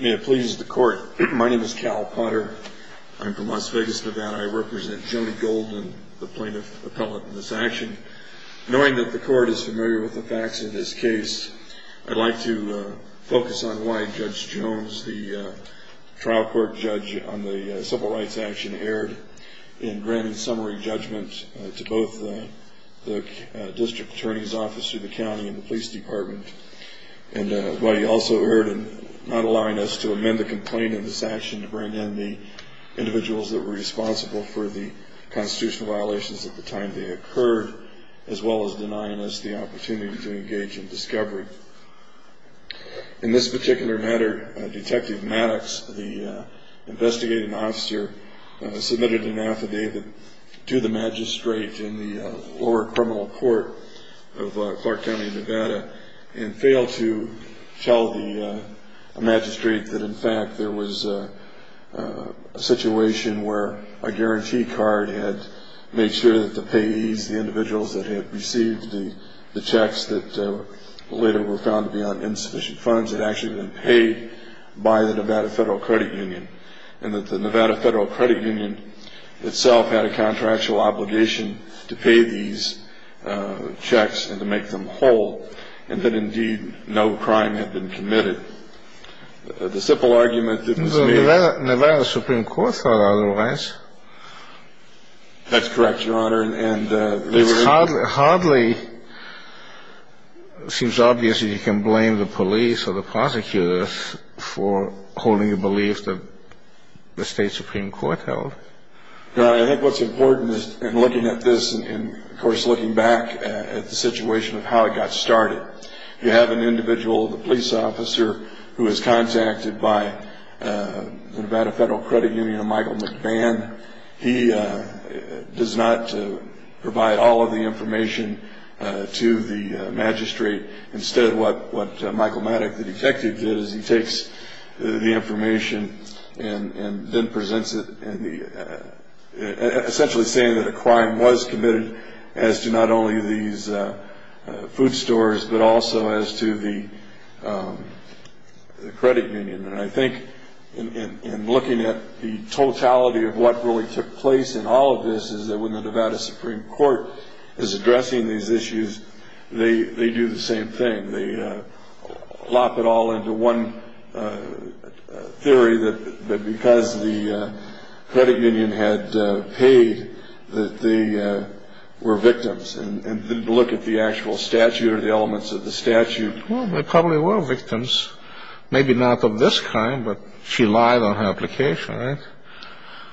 May it please the court. My name is Cal Potter. I'm from Las Vegas, Nevada. I represent Joni Gold and the plaintiff appellate in this action. Knowing that the court is familiar with the facts in this case, I'd like to focus on why Judge Jones, the trial court judge on the civil rights action, erred in granting summary judgment to both the district attorney's office through the county and the police department. And why he also erred in not allowing us to amend the complaint in this action to bring in the individuals that were responsible for the constitutional violations at the time they occurred, as well as denying us the opportunity to engage in discovery. In this particular matter, Detective Maddox, the investigating officer, submitted an affidavit to the magistrate in the lower criminal court of Clark County, Nevada, and failed to tell the magistrate that, in fact, there was a situation where a guarantee card had made sure that the payees, the individuals that had received the checks that later were found to be on insufficient funds, had actually been paid by the Nevada Federal Credit Union, and that the Nevada Federal Credit Union itself had a contractual obligation to pay these checks and to make them whole, and that, indeed, no crime had been committed. The simple argument that was made... The Nevada Supreme Court thought otherwise. That's correct, Your Honor. It hardly seems obvious that you can blame the police or the prosecutors for holding a belief that the state Supreme Court held. Your Honor, I think what's important in looking at this and, of course, looking back at the situation of how it got started, you have an individual, the police officer, who is contacted by the Nevada Federal Credit Union, Michael McBann. He does not provide all of the information to the magistrate. Instead, what Michael Maddock, the detective, did is he takes the information and then presents it, essentially saying that a crime was committed as to not only these food stores but also as to the credit union. And I think, in looking at the totality of what really took place in all of this, is that when the Nevada Supreme Court is addressing these issues, they do the same thing. They plop it all into one theory that because the credit union had paid that they were victims. And to look at the actual statute or the elements of the statute... Well, they probably were victims, maybe not of this crime, but she lied on her application, right?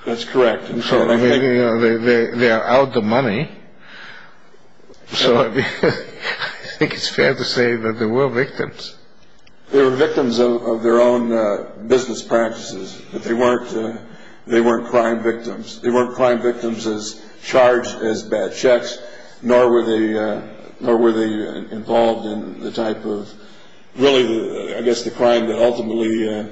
That's correct. They are out of money, so I think it's fair to say that they were victims. They were victims of their own business practices, but they weren't crime victims. They weren't crime victims as charged as bad checks, nor were they involved in the type of, really, I guess, the crime that ultimately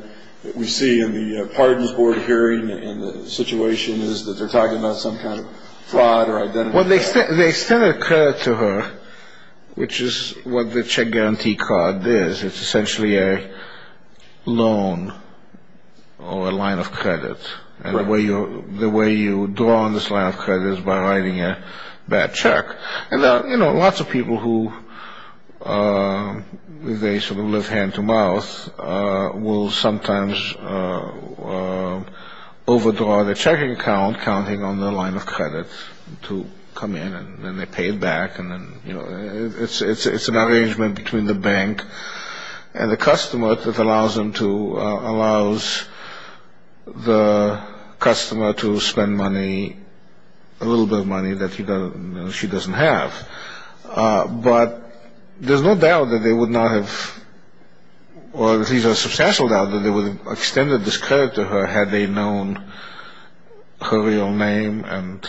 we see in the pardons board hearing and the situation is that they're talking about some kind of fraud or identity theft. Well, they extended credit to her, which is what the check guarantee card is. It's essentially a loan or a line of credit. And the way you draw on this line of credit is by writing a bad check. And, you know, lots of people who they sort of live hand to mouth will sometimes overdraw their checking account counting on their line of credit to come in and then they pay it back and then, you know, it's an arrangement between the bank and the customer that allows the customer to spend money, a little bit of money that she doesn't have. But there's no doubt that they would not have, or at least a substantial doubt, that they would have extended this credit to her had they known her real name. And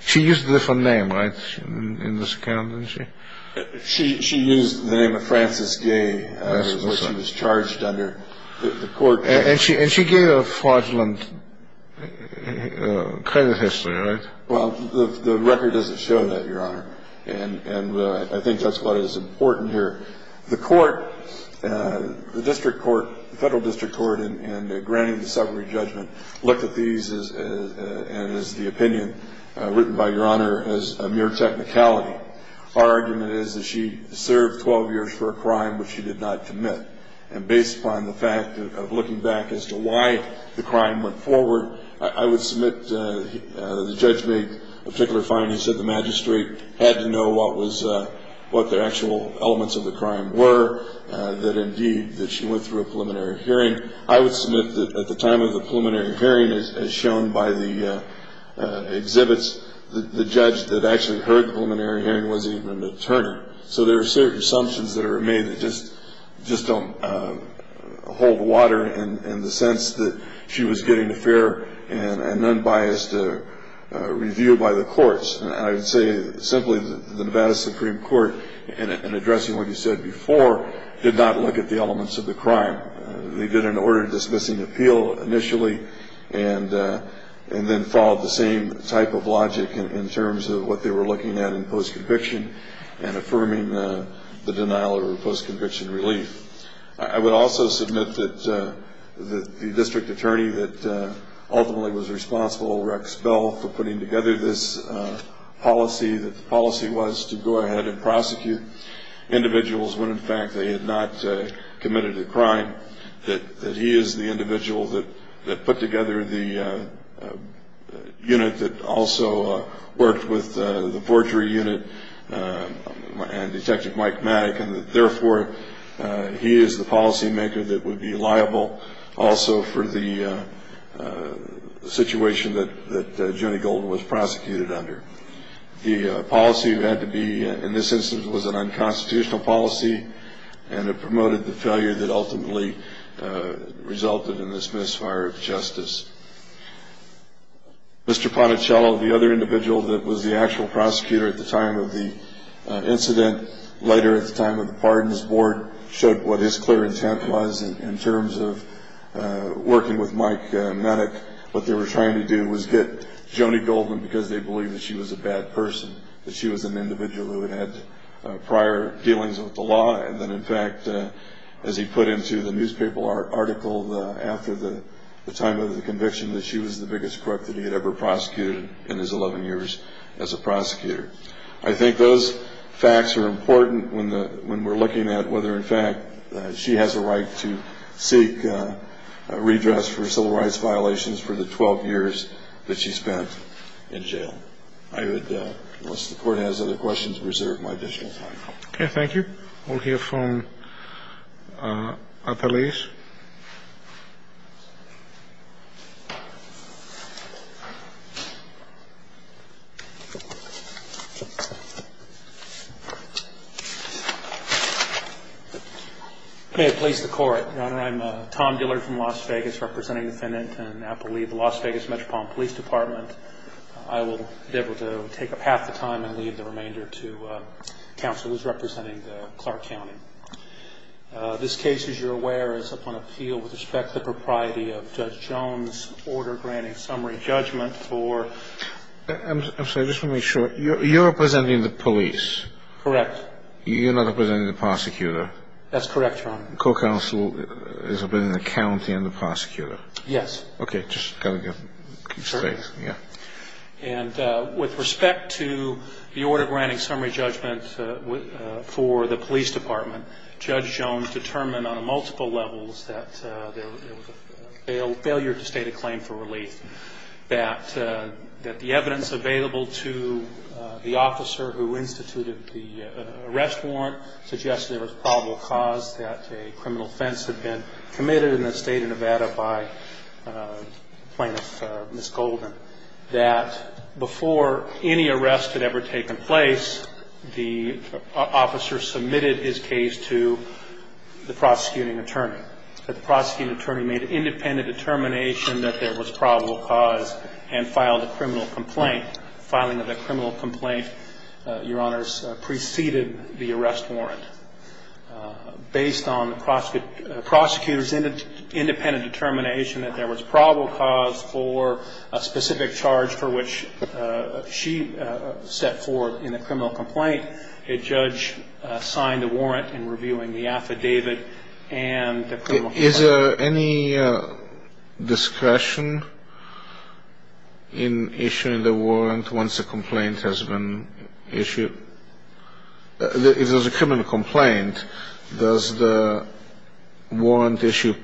she used a different name, right, in this account, didn't she? She used the name of Frances Gay, which she was charged under. And she gave a fraudulent credit history, right? Well, the record doesn't show that, Your Honor. And I think that's what is important here. The court, the district court, the federal district court in granting the summary judgment looked at these as the opinion written by Your Honor as a mere technicality. Our argument is that she served 12 years for a crime which she did not commit. And based upon the fact of looking back as to why the crime went forward, I would submit the judge made a particular finding. He said the magistrate had to know what the actual elements of the crime were, that indeed that she went through a preliminary hearing. I would submit that at the time of the preliminary hearing, as shown by the exhibits, the judge that actually heard the preliminary hearing wasn't even an attorney. So there are certain assumptions that are made that just don't hold water in the sense that she was getting a fair and unbiased review by the courts. And I would say simply that the Nevada Supreme Court, in addressing what you said before, did not look at the elements of the crime. They did an order dismissing appeal initially and then followed the same type of logic in terms of what they were looking at in post-conviction and affirming the denial of post-conviction relief. I would also submit that the district attorney that ultimately was responsible, Rex Bell, for putting together this policy, that the policy was to go ahead and prosecute individuals when, in fact, they had not committed a crime, that he is the individual that put together the unit that also worked with the forgery unit and Detective Mike Maddock and that, therefore, he is the policymaker that would be liable also for the situation that Jenny Golden was prosecuted under. The policy that had to be, in this instance, was an unconstitutional policy and it promoted the failure that ultimately resulted in this misfire of justice. Mr. Ponticello, the other individual that was the actual prosecutor at the time of the incident, later at the time of the pardons, the board showed what his clear intent was in terms of working with Mike Maddock. What they were trying to do was get Jenny Golden because they believed that she was a bad person, that she was an individual who had prior dealings with the law and that, in fact, as he put into the newspaper article after the time of the conviction, that she was the biggest crook that he had ever prosecuted in his 11 years as a prosecutor. I think those facts are important when we're looking at whether, in fact, she has a right to seek redress for civil rights violations for the 12 years that she spent in jail. I would, unless the court has other questions, reserve my additional time. Okay. Thank you. We'll hear from Apeliz. May it please the Court, Your Honor, I'm Tom Dillard from Las Vegas, representing defendant in Apeliz, the Las Vegas Metropolitan Police Department. I will be able to take up half the time and leave the remainder to counsel who's representing Clark County. This case, as you're aware, is upon appeal with respect to the propriety of Judge Jones' order granting summary judgment for I'm sorry, just to make sure, you're representing the police. Correct. You're not representing the prosecutor. That's correct, Your Honor. The court counsel is representing the county and the prosecutor. Yes. Okay. Just got to keep space. Yeah. And with respect to the order granting summary judgment for the police department, Judge Jones determined on multiple levels that there was a failure to state a claim for relief, that the evidence available to the officer who instituted the arrest warrant suggested there was probable cause that a criminal offense had been committed in the state of Nevada by plaintiff Ms. Golden, that before any arrest had ever taken place, the officer submitted his case to the prosecuting attorney. The prosecuting attorney made an independent determination that there was probable cause and filed a criminal complaint. Filing of a criminal complaint, Your Honors, preceded the arrest warrant. Based on the prosecutor's independent determination that there was probable cause for a specific charge for which she set forth in the criminal complaint, a judge signed a warrant in reviewing the affidavit and the criminal complaint. Is there any discretion in issuing the warrant once a complaint has been issued? If there's a criminal complaint, does the warrant issue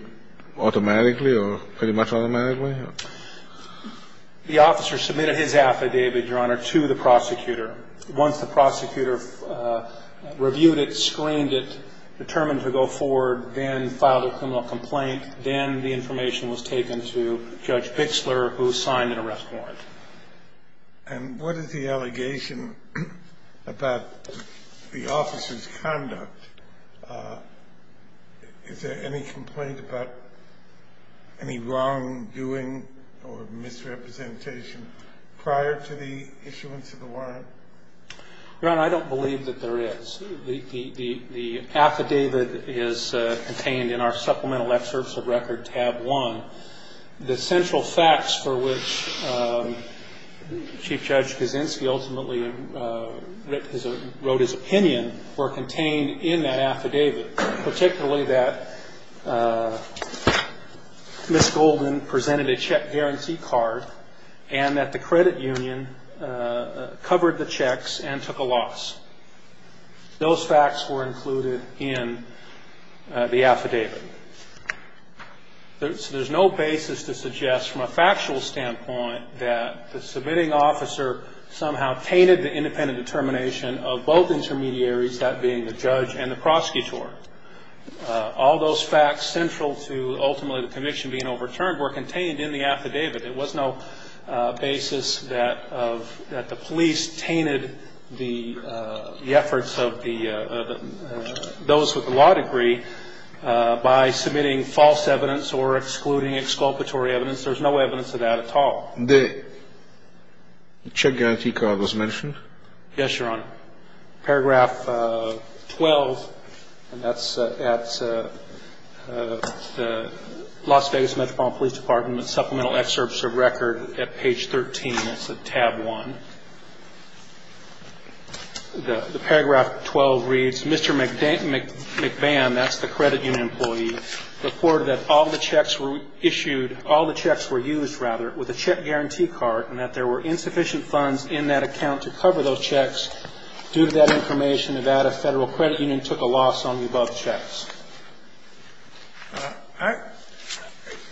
automatically or pretty much automatically? The officer submitted his affidavit, Your Honor, to the prosecutor. Once the prosecutor reviewed it, screened it, determined to go forward, then filed a criminal complaint, then the information was taken to Judge Bixler, who signed an arrest warrant. And what is the allegation about the officer's conduct? Is there any complaint about any wrongdoing or misrepresentation prior to the issuance of the warrant? Your Honor, I don't believe that there is. The affidavit is contained in our supplemental excerpts of Record Tab 1. The central facts for which Chief Judge Kaczynski ultimately wrote his opinion were contained in that affidavit, particularly that Ms. Golden presented a check guarantee card and that the credit union covered the checks and took a loss. Those facts were included in the affidavit. There's no basis to suggest from a factual standpoint that the submitting officer somehow tainted the independent determination of both intermediaries, that being the judge and the prosecutor. All those facts central to ultimately the conviction being overturned were contained in the affidavit. There was no basis that the police tainted the efforts of those with the law degree by submitting false evidence or excluding exculpatory evidence. There's no evidence of that at all. The check guarantee card was mentioned? Yes, Your Honor. Paragraph 12, and that's at the Las Vegas Metropolitan Police Department Supplemental Excerpts of Record at page 13. That's at Tab 1. The paragraph 12 reads, Mr. McBann, that's the credit union employee, reported that all the checks were issued, all the checks were used, rather, with a check guarantee card and that there were insufficient funds in that account to cover those checks. Due to that information, Nevada Federal Credit Union took a loss on the above checks.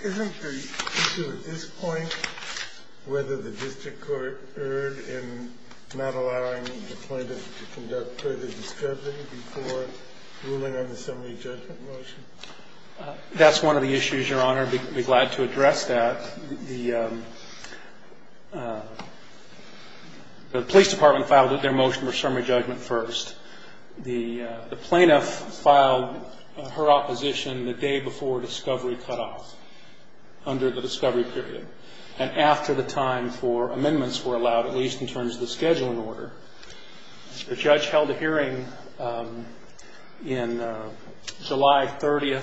Isn't the issue at this point whether the district court erred in not allowing the plaintiff to conduct further discrediting before ruling on the summary judgment motion? That's one of the issues, Your Honor. I'd be glad to address that. The police department filed their motion for summary judgment first. The plaintiff filed her opposition the day before discovery cutoff, under the discovery period. And after the time for amendments were allowed, at least in terms of the scheduling order, the judge held a hearing in July 30th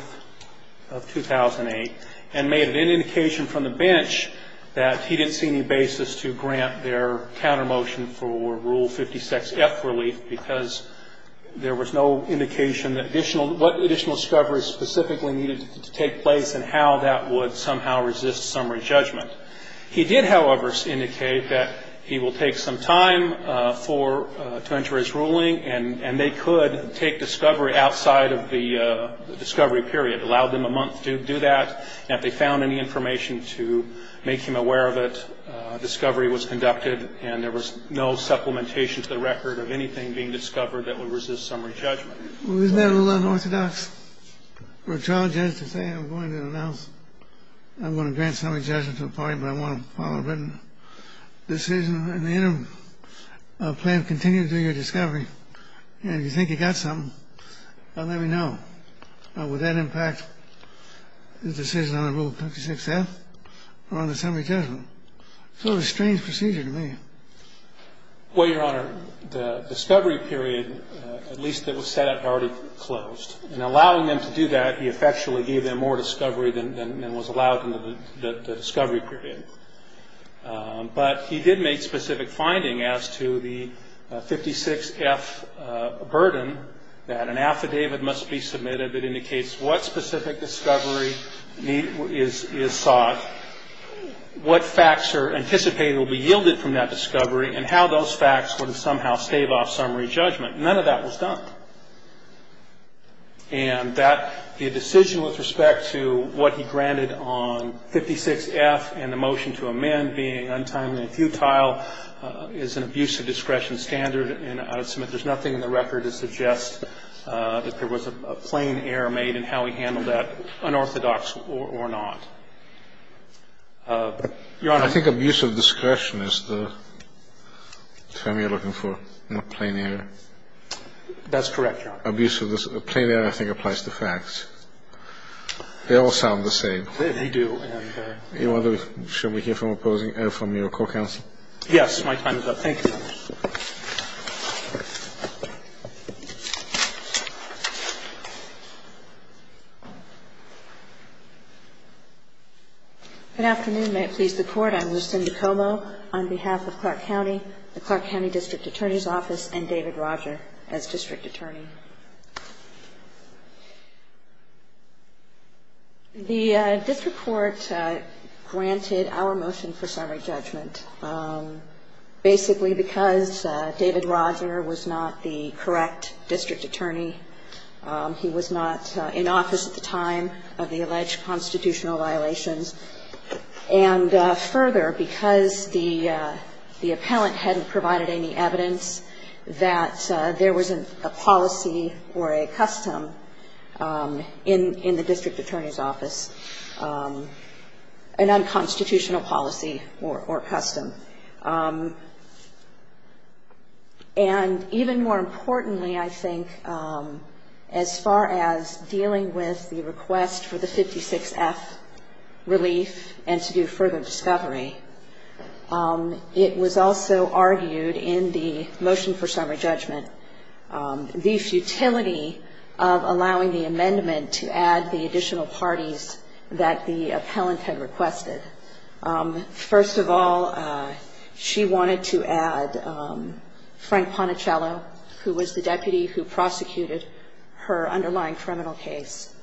of 2008 and made an indication from the bench that he didn't see any basis to grant their counter motion for Rule 56F relief because there was no indication that additional what additional discoveries specifically needed to take place and how that would somehow resist summary judgment. He did, however, indicate that he will take some time to enter his ruling and they could take discovery outside of the discovery period, allow them a month to do that. And if they found any information to make him aware of it, discovery was conducted and there was no supplementation to the record of anything being discovered that would resist summary judgment. Isn't that a little unorthodox for a trial judge to say, I'm going to announce, I'm going to grant summary judgment to the party but I want to follow written decision and the interim plan continues to do your discovery. And if you think you got something, let me know. Would that impact the decision on Rule 56F or on the summary judgment? Sort of a strange procedure to me. Well, Your Honor, the discovery period, at least it was set up, had already closed. And allowing them to do that, he effectually gave them more discovery than was allowed in the discovery period. But he did make specific finding as to the 56F burden that an affidavit must be submitted that indicates what specific discovery is sought, what facts are anticipated will be yielded from that discovery and how those facts would somehow stave off summary judgment. None of that was done. And that the decision with respect to what he granted on 56F and the motion to amend being untimely and futile is an abuse of discretion standard. And I would submit there's nothing in the record to suggest that there was a plain error made in how he handled that, unorthodox or not. Your Honor. I think abuse of discretion is the term you're looking for, not plain error. That's correct, Your Honor. Abuse of discretion. Plain error, I think, applies to facts. They all sound the same. They do. Your Honor, should we hear from opposing or from your court counsel? Yes. My time is up. Thank you, Your Honor. Good afternoon. May it please the Court. I'm Lucinda Como on behalf of Clark County, the Clark County District Attorney's Office, and David Roger as District Attorney. The district court granted our motion for summary judgment basically because of the fact that David Roger was not the correct district attorney. He was not in office at the time of the alleged constitutional violations. And further, because the appellant hadn't provided any evidence that there was a policy or a custom in the district attorney's office, an unconstitutional policy or custom. And even more importantly, I think, as far as dealing with the request for the 56F relief and to do further discovery, it was also argued in the motion for summary judgment, the futility of allowing the amendment to add the additional parties that the appellant had requested. First of all, she wanted to add Frank Ponicello, who was the deputy who prosecuted her underlying criminal case.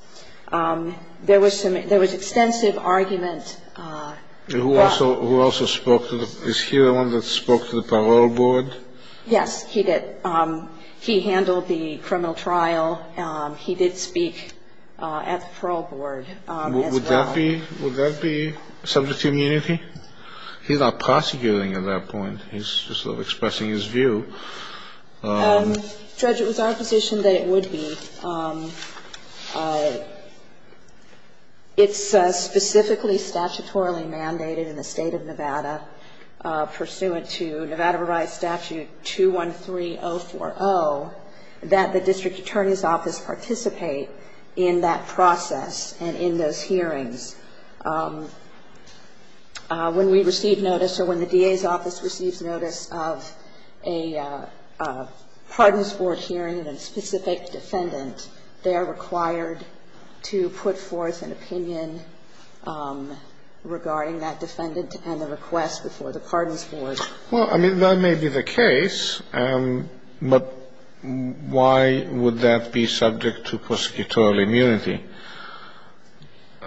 There was extensive argument. Who also spoke to the – is he the one that spoke to the parole board? Yes, he did. He handled the criminal trial. He did speak at the parole board as well. And would that be subject to immunity? He's not prosecuting at that point. He's just sort of expressing his view. Judge, it was our position that it would be. It's specifically statutorily mandated in the State of Nevada, pursuant to Nevada Barriers Statute 213040, that the district attorney's office participate in that process and in those hearings. When we receive notice or when the DA's office receives notice of a pardons board hearing and a specific defendant, they are required to put forth an opinion regarding that defendant and the request before the pardons board. Well, I mean, that may be the case, but why would that be subject to prosecutorial immunity?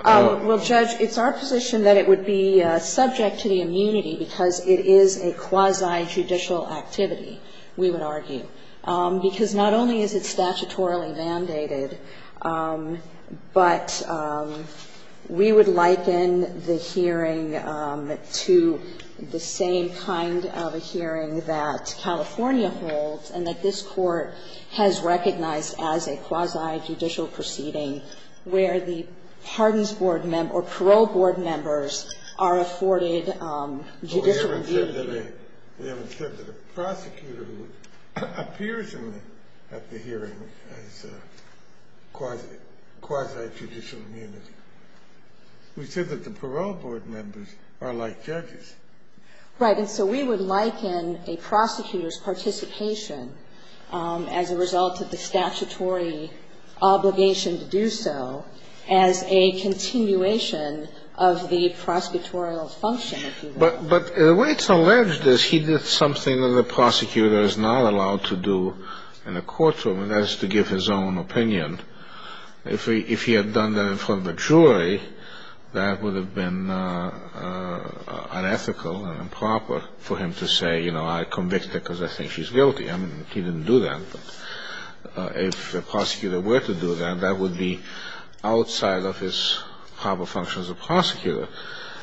Well, Judge, it's our position that it would be subject to the immunity because it is a quasi-judicial activity, we would argue. Because not only is it statutorily mandated, but we would liken the hearing to the same kind of a hearing that California holds and that this Court has recognized as a quasi-judicial proceeding where the pardons board or parole board members are afforded judicial immunity. Well, we haven't said that a prosecutor who appears at the hearing has quasi-judicial immunity. We said that the parole board members are like judges. Right. And so we would liken a prosecutor's participation as a result of the statutory obligation to do so as a continuation of the prosecutorial function, if you will. But the way it's alleged is he did something that a prosecutor is not allowed to do in his own opinion. If he had done that in front of a jury, that would have been unethical and improper for him to say, you know, I convicted her because I think she's guilty. I mean, he didn't do that. If a prosecutor were to do that, that would be outside of his proper function as a prosecutor.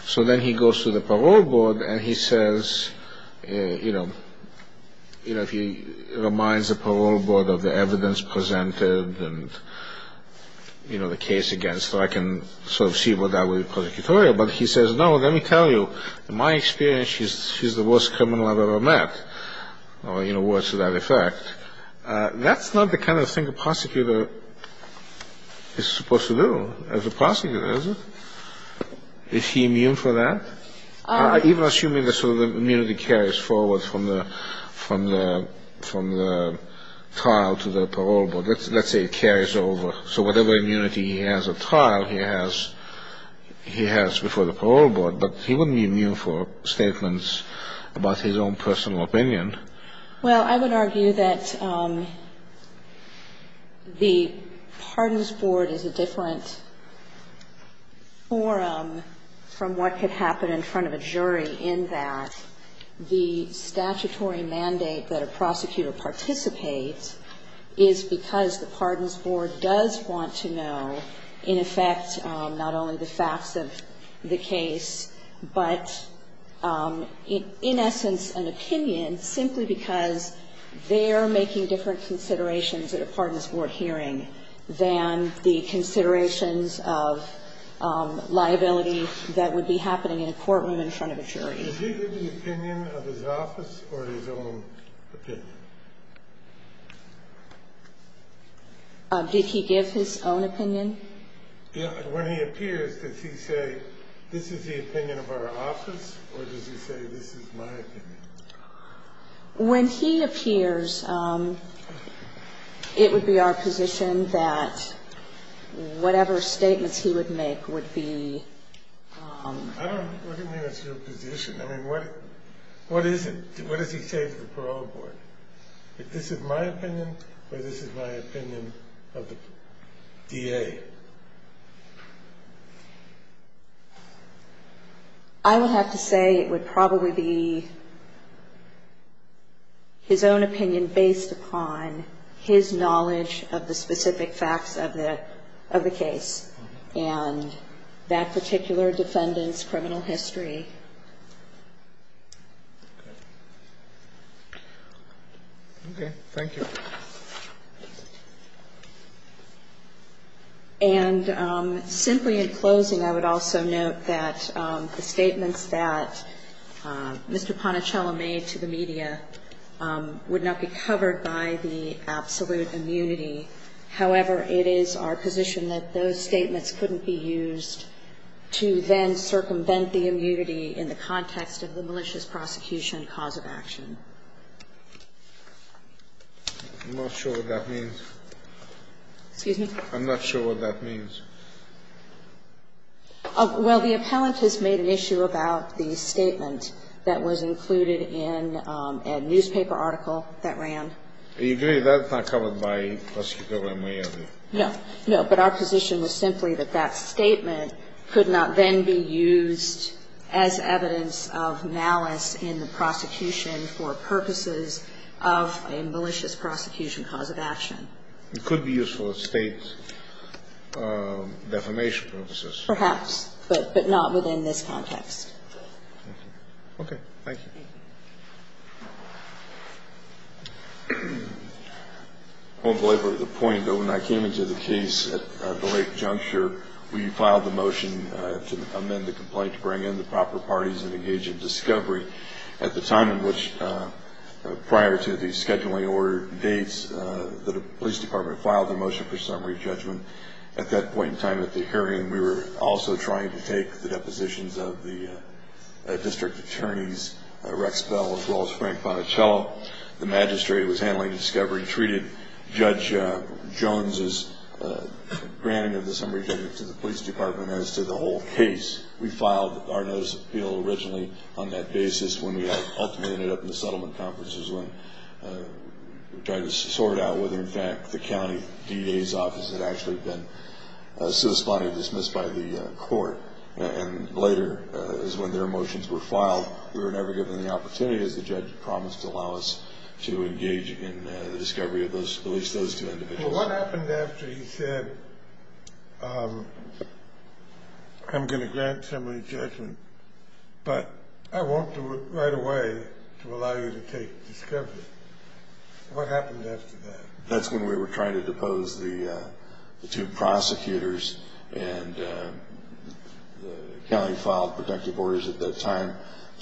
So then he goes to the parole board and he says, you know, you know, if he reminds the parole board of the evidence presented and, you know, the case against her, I can sort of see what that would be prosecutorial. But he says, no, let me tell you, in my experience, she's the worst criminal I've ever met, or, you know, words to that effect. That's not the kind of thing a prosecutor is supposed to do as a prosecutor, is it? Is he immune for that? Even assuming that sort of immunity carries forward from the trial to the parole board, let's say it carries over. So whatever immunity he has at trial he has before the parole board, but he wouldn't be immune for statements about his own personal opinion. Well, I would argue that the Pardons Board is a different forum from what could have been in front of a jury in that the statutory mandate that a prosecutor participates is because the Pardons Board does want to know, in effect, not only the facts of the case, but in essence an opinion simply because they're making different I don't know what the reason is. I mean, what is it? What does he say to the parole board? If this is my opinion or this is my opinion of the DA? I would have to say it would probably be his own opinion based upon his knowledge of the specific facts of the case. And that particular defendant's criminal history. Okay. Thank you. And simply in closing, I would also note that the statements that Mr. Ponicello made to the media would not be covered by the absolute immunity. However, it is our position that those statements couldn't be used to then circumvent the immunity in the context of the malicious prosecution cause of action. I'm not sure what that means. Excuse me? I'm not sure what that means. Well, the appellant has made an issue about the statement that was included in a newspaper article that ran. I agree. That's not covered by prosecutorial immunity. No. No. But our position was simply that that statement could not then be used as evidence of malice in the prosecution for purposes of a malicious prosecution cause of action. It could be used for State defamation purposes. Perhaps. But not within this context. Okay. Thank you. I won't belabor the point, but when I came into the case at the Lake Juncture, we filed the motion to amend the complaint to bring in the proper parties and engage in discovery. At the time in which prior to the scheduling order dates, the police department filed the motion for summary judgment. At that point in time at the hearing, we were also trying to take the depositions of the district attorney's, Rex Bell, as well as Frank Bonicello. The magistrate was handling discovery, treated Judge Jones's granting of the summary judgment to the police department as to the whole case. We filed our notice of appeal originally on that basis when we ultimately ended up in the settlement conferences when we tried to sort out whether, in fact, the county DA's office had actually been subsequently dismissed by the court. And later is when their motions were filed. We were never given the opportunity, as the judge promised, to allow us to engage in the discovery of at least those two individuals. What happened after he said, I'm going to grant summary judgment, but I won't do it right away to allow you to take discovery? What happened after that? That's when we were trying to depose the two prosecutors, and the county filed protective orders at that time.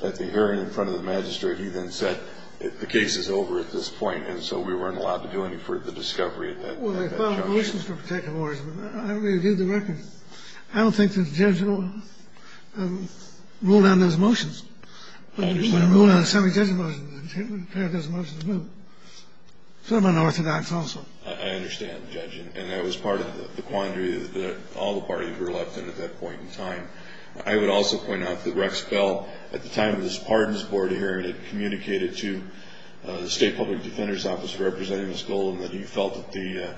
At the hearing in front of the magistrate, he then said the case is over at this point, and so we weren't allowed to do any further discovery at that time. Well, they filed motions for protective orders, but I don't think they did the record. I don't think the judge ruled on those motions. I understand. He ruled on the summary judgment motions and prepared those motions. Some unorthodox also. I understand, Judge, and that was part of the quandary that all the parties were left in at that point in time. I would also point out that Rex Bell, at the time of this pardons board hearing, had communicated to the state public defender's office representing the school and that he felt that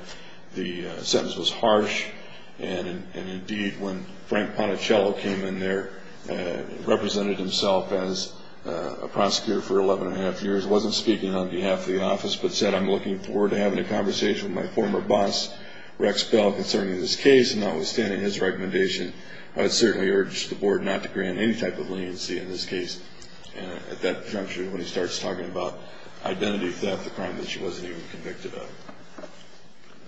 the sentence was harsh, and, indeed, when Frank Ponticello came in there and represented himself as a prosecutor for 11 1⁄2 years, wasn't speaking on behalf of the office, but said, I'm looking forward to having a conversation with my former boss, Rex Bell, concerning this case, and notwithstanding his recommendation, I would certainly urge the board not to grant any type of leniency in this case at that juncture when he starts talking about identity theft, a crime that she wasn't even convicted of. I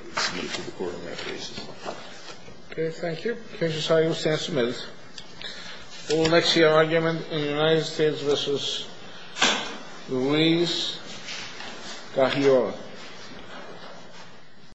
would speak to the court on that basis. Okay. Thank you. Judge Osagio, stand cemented. We will next hear argument in the United States v. Louise Kahiora.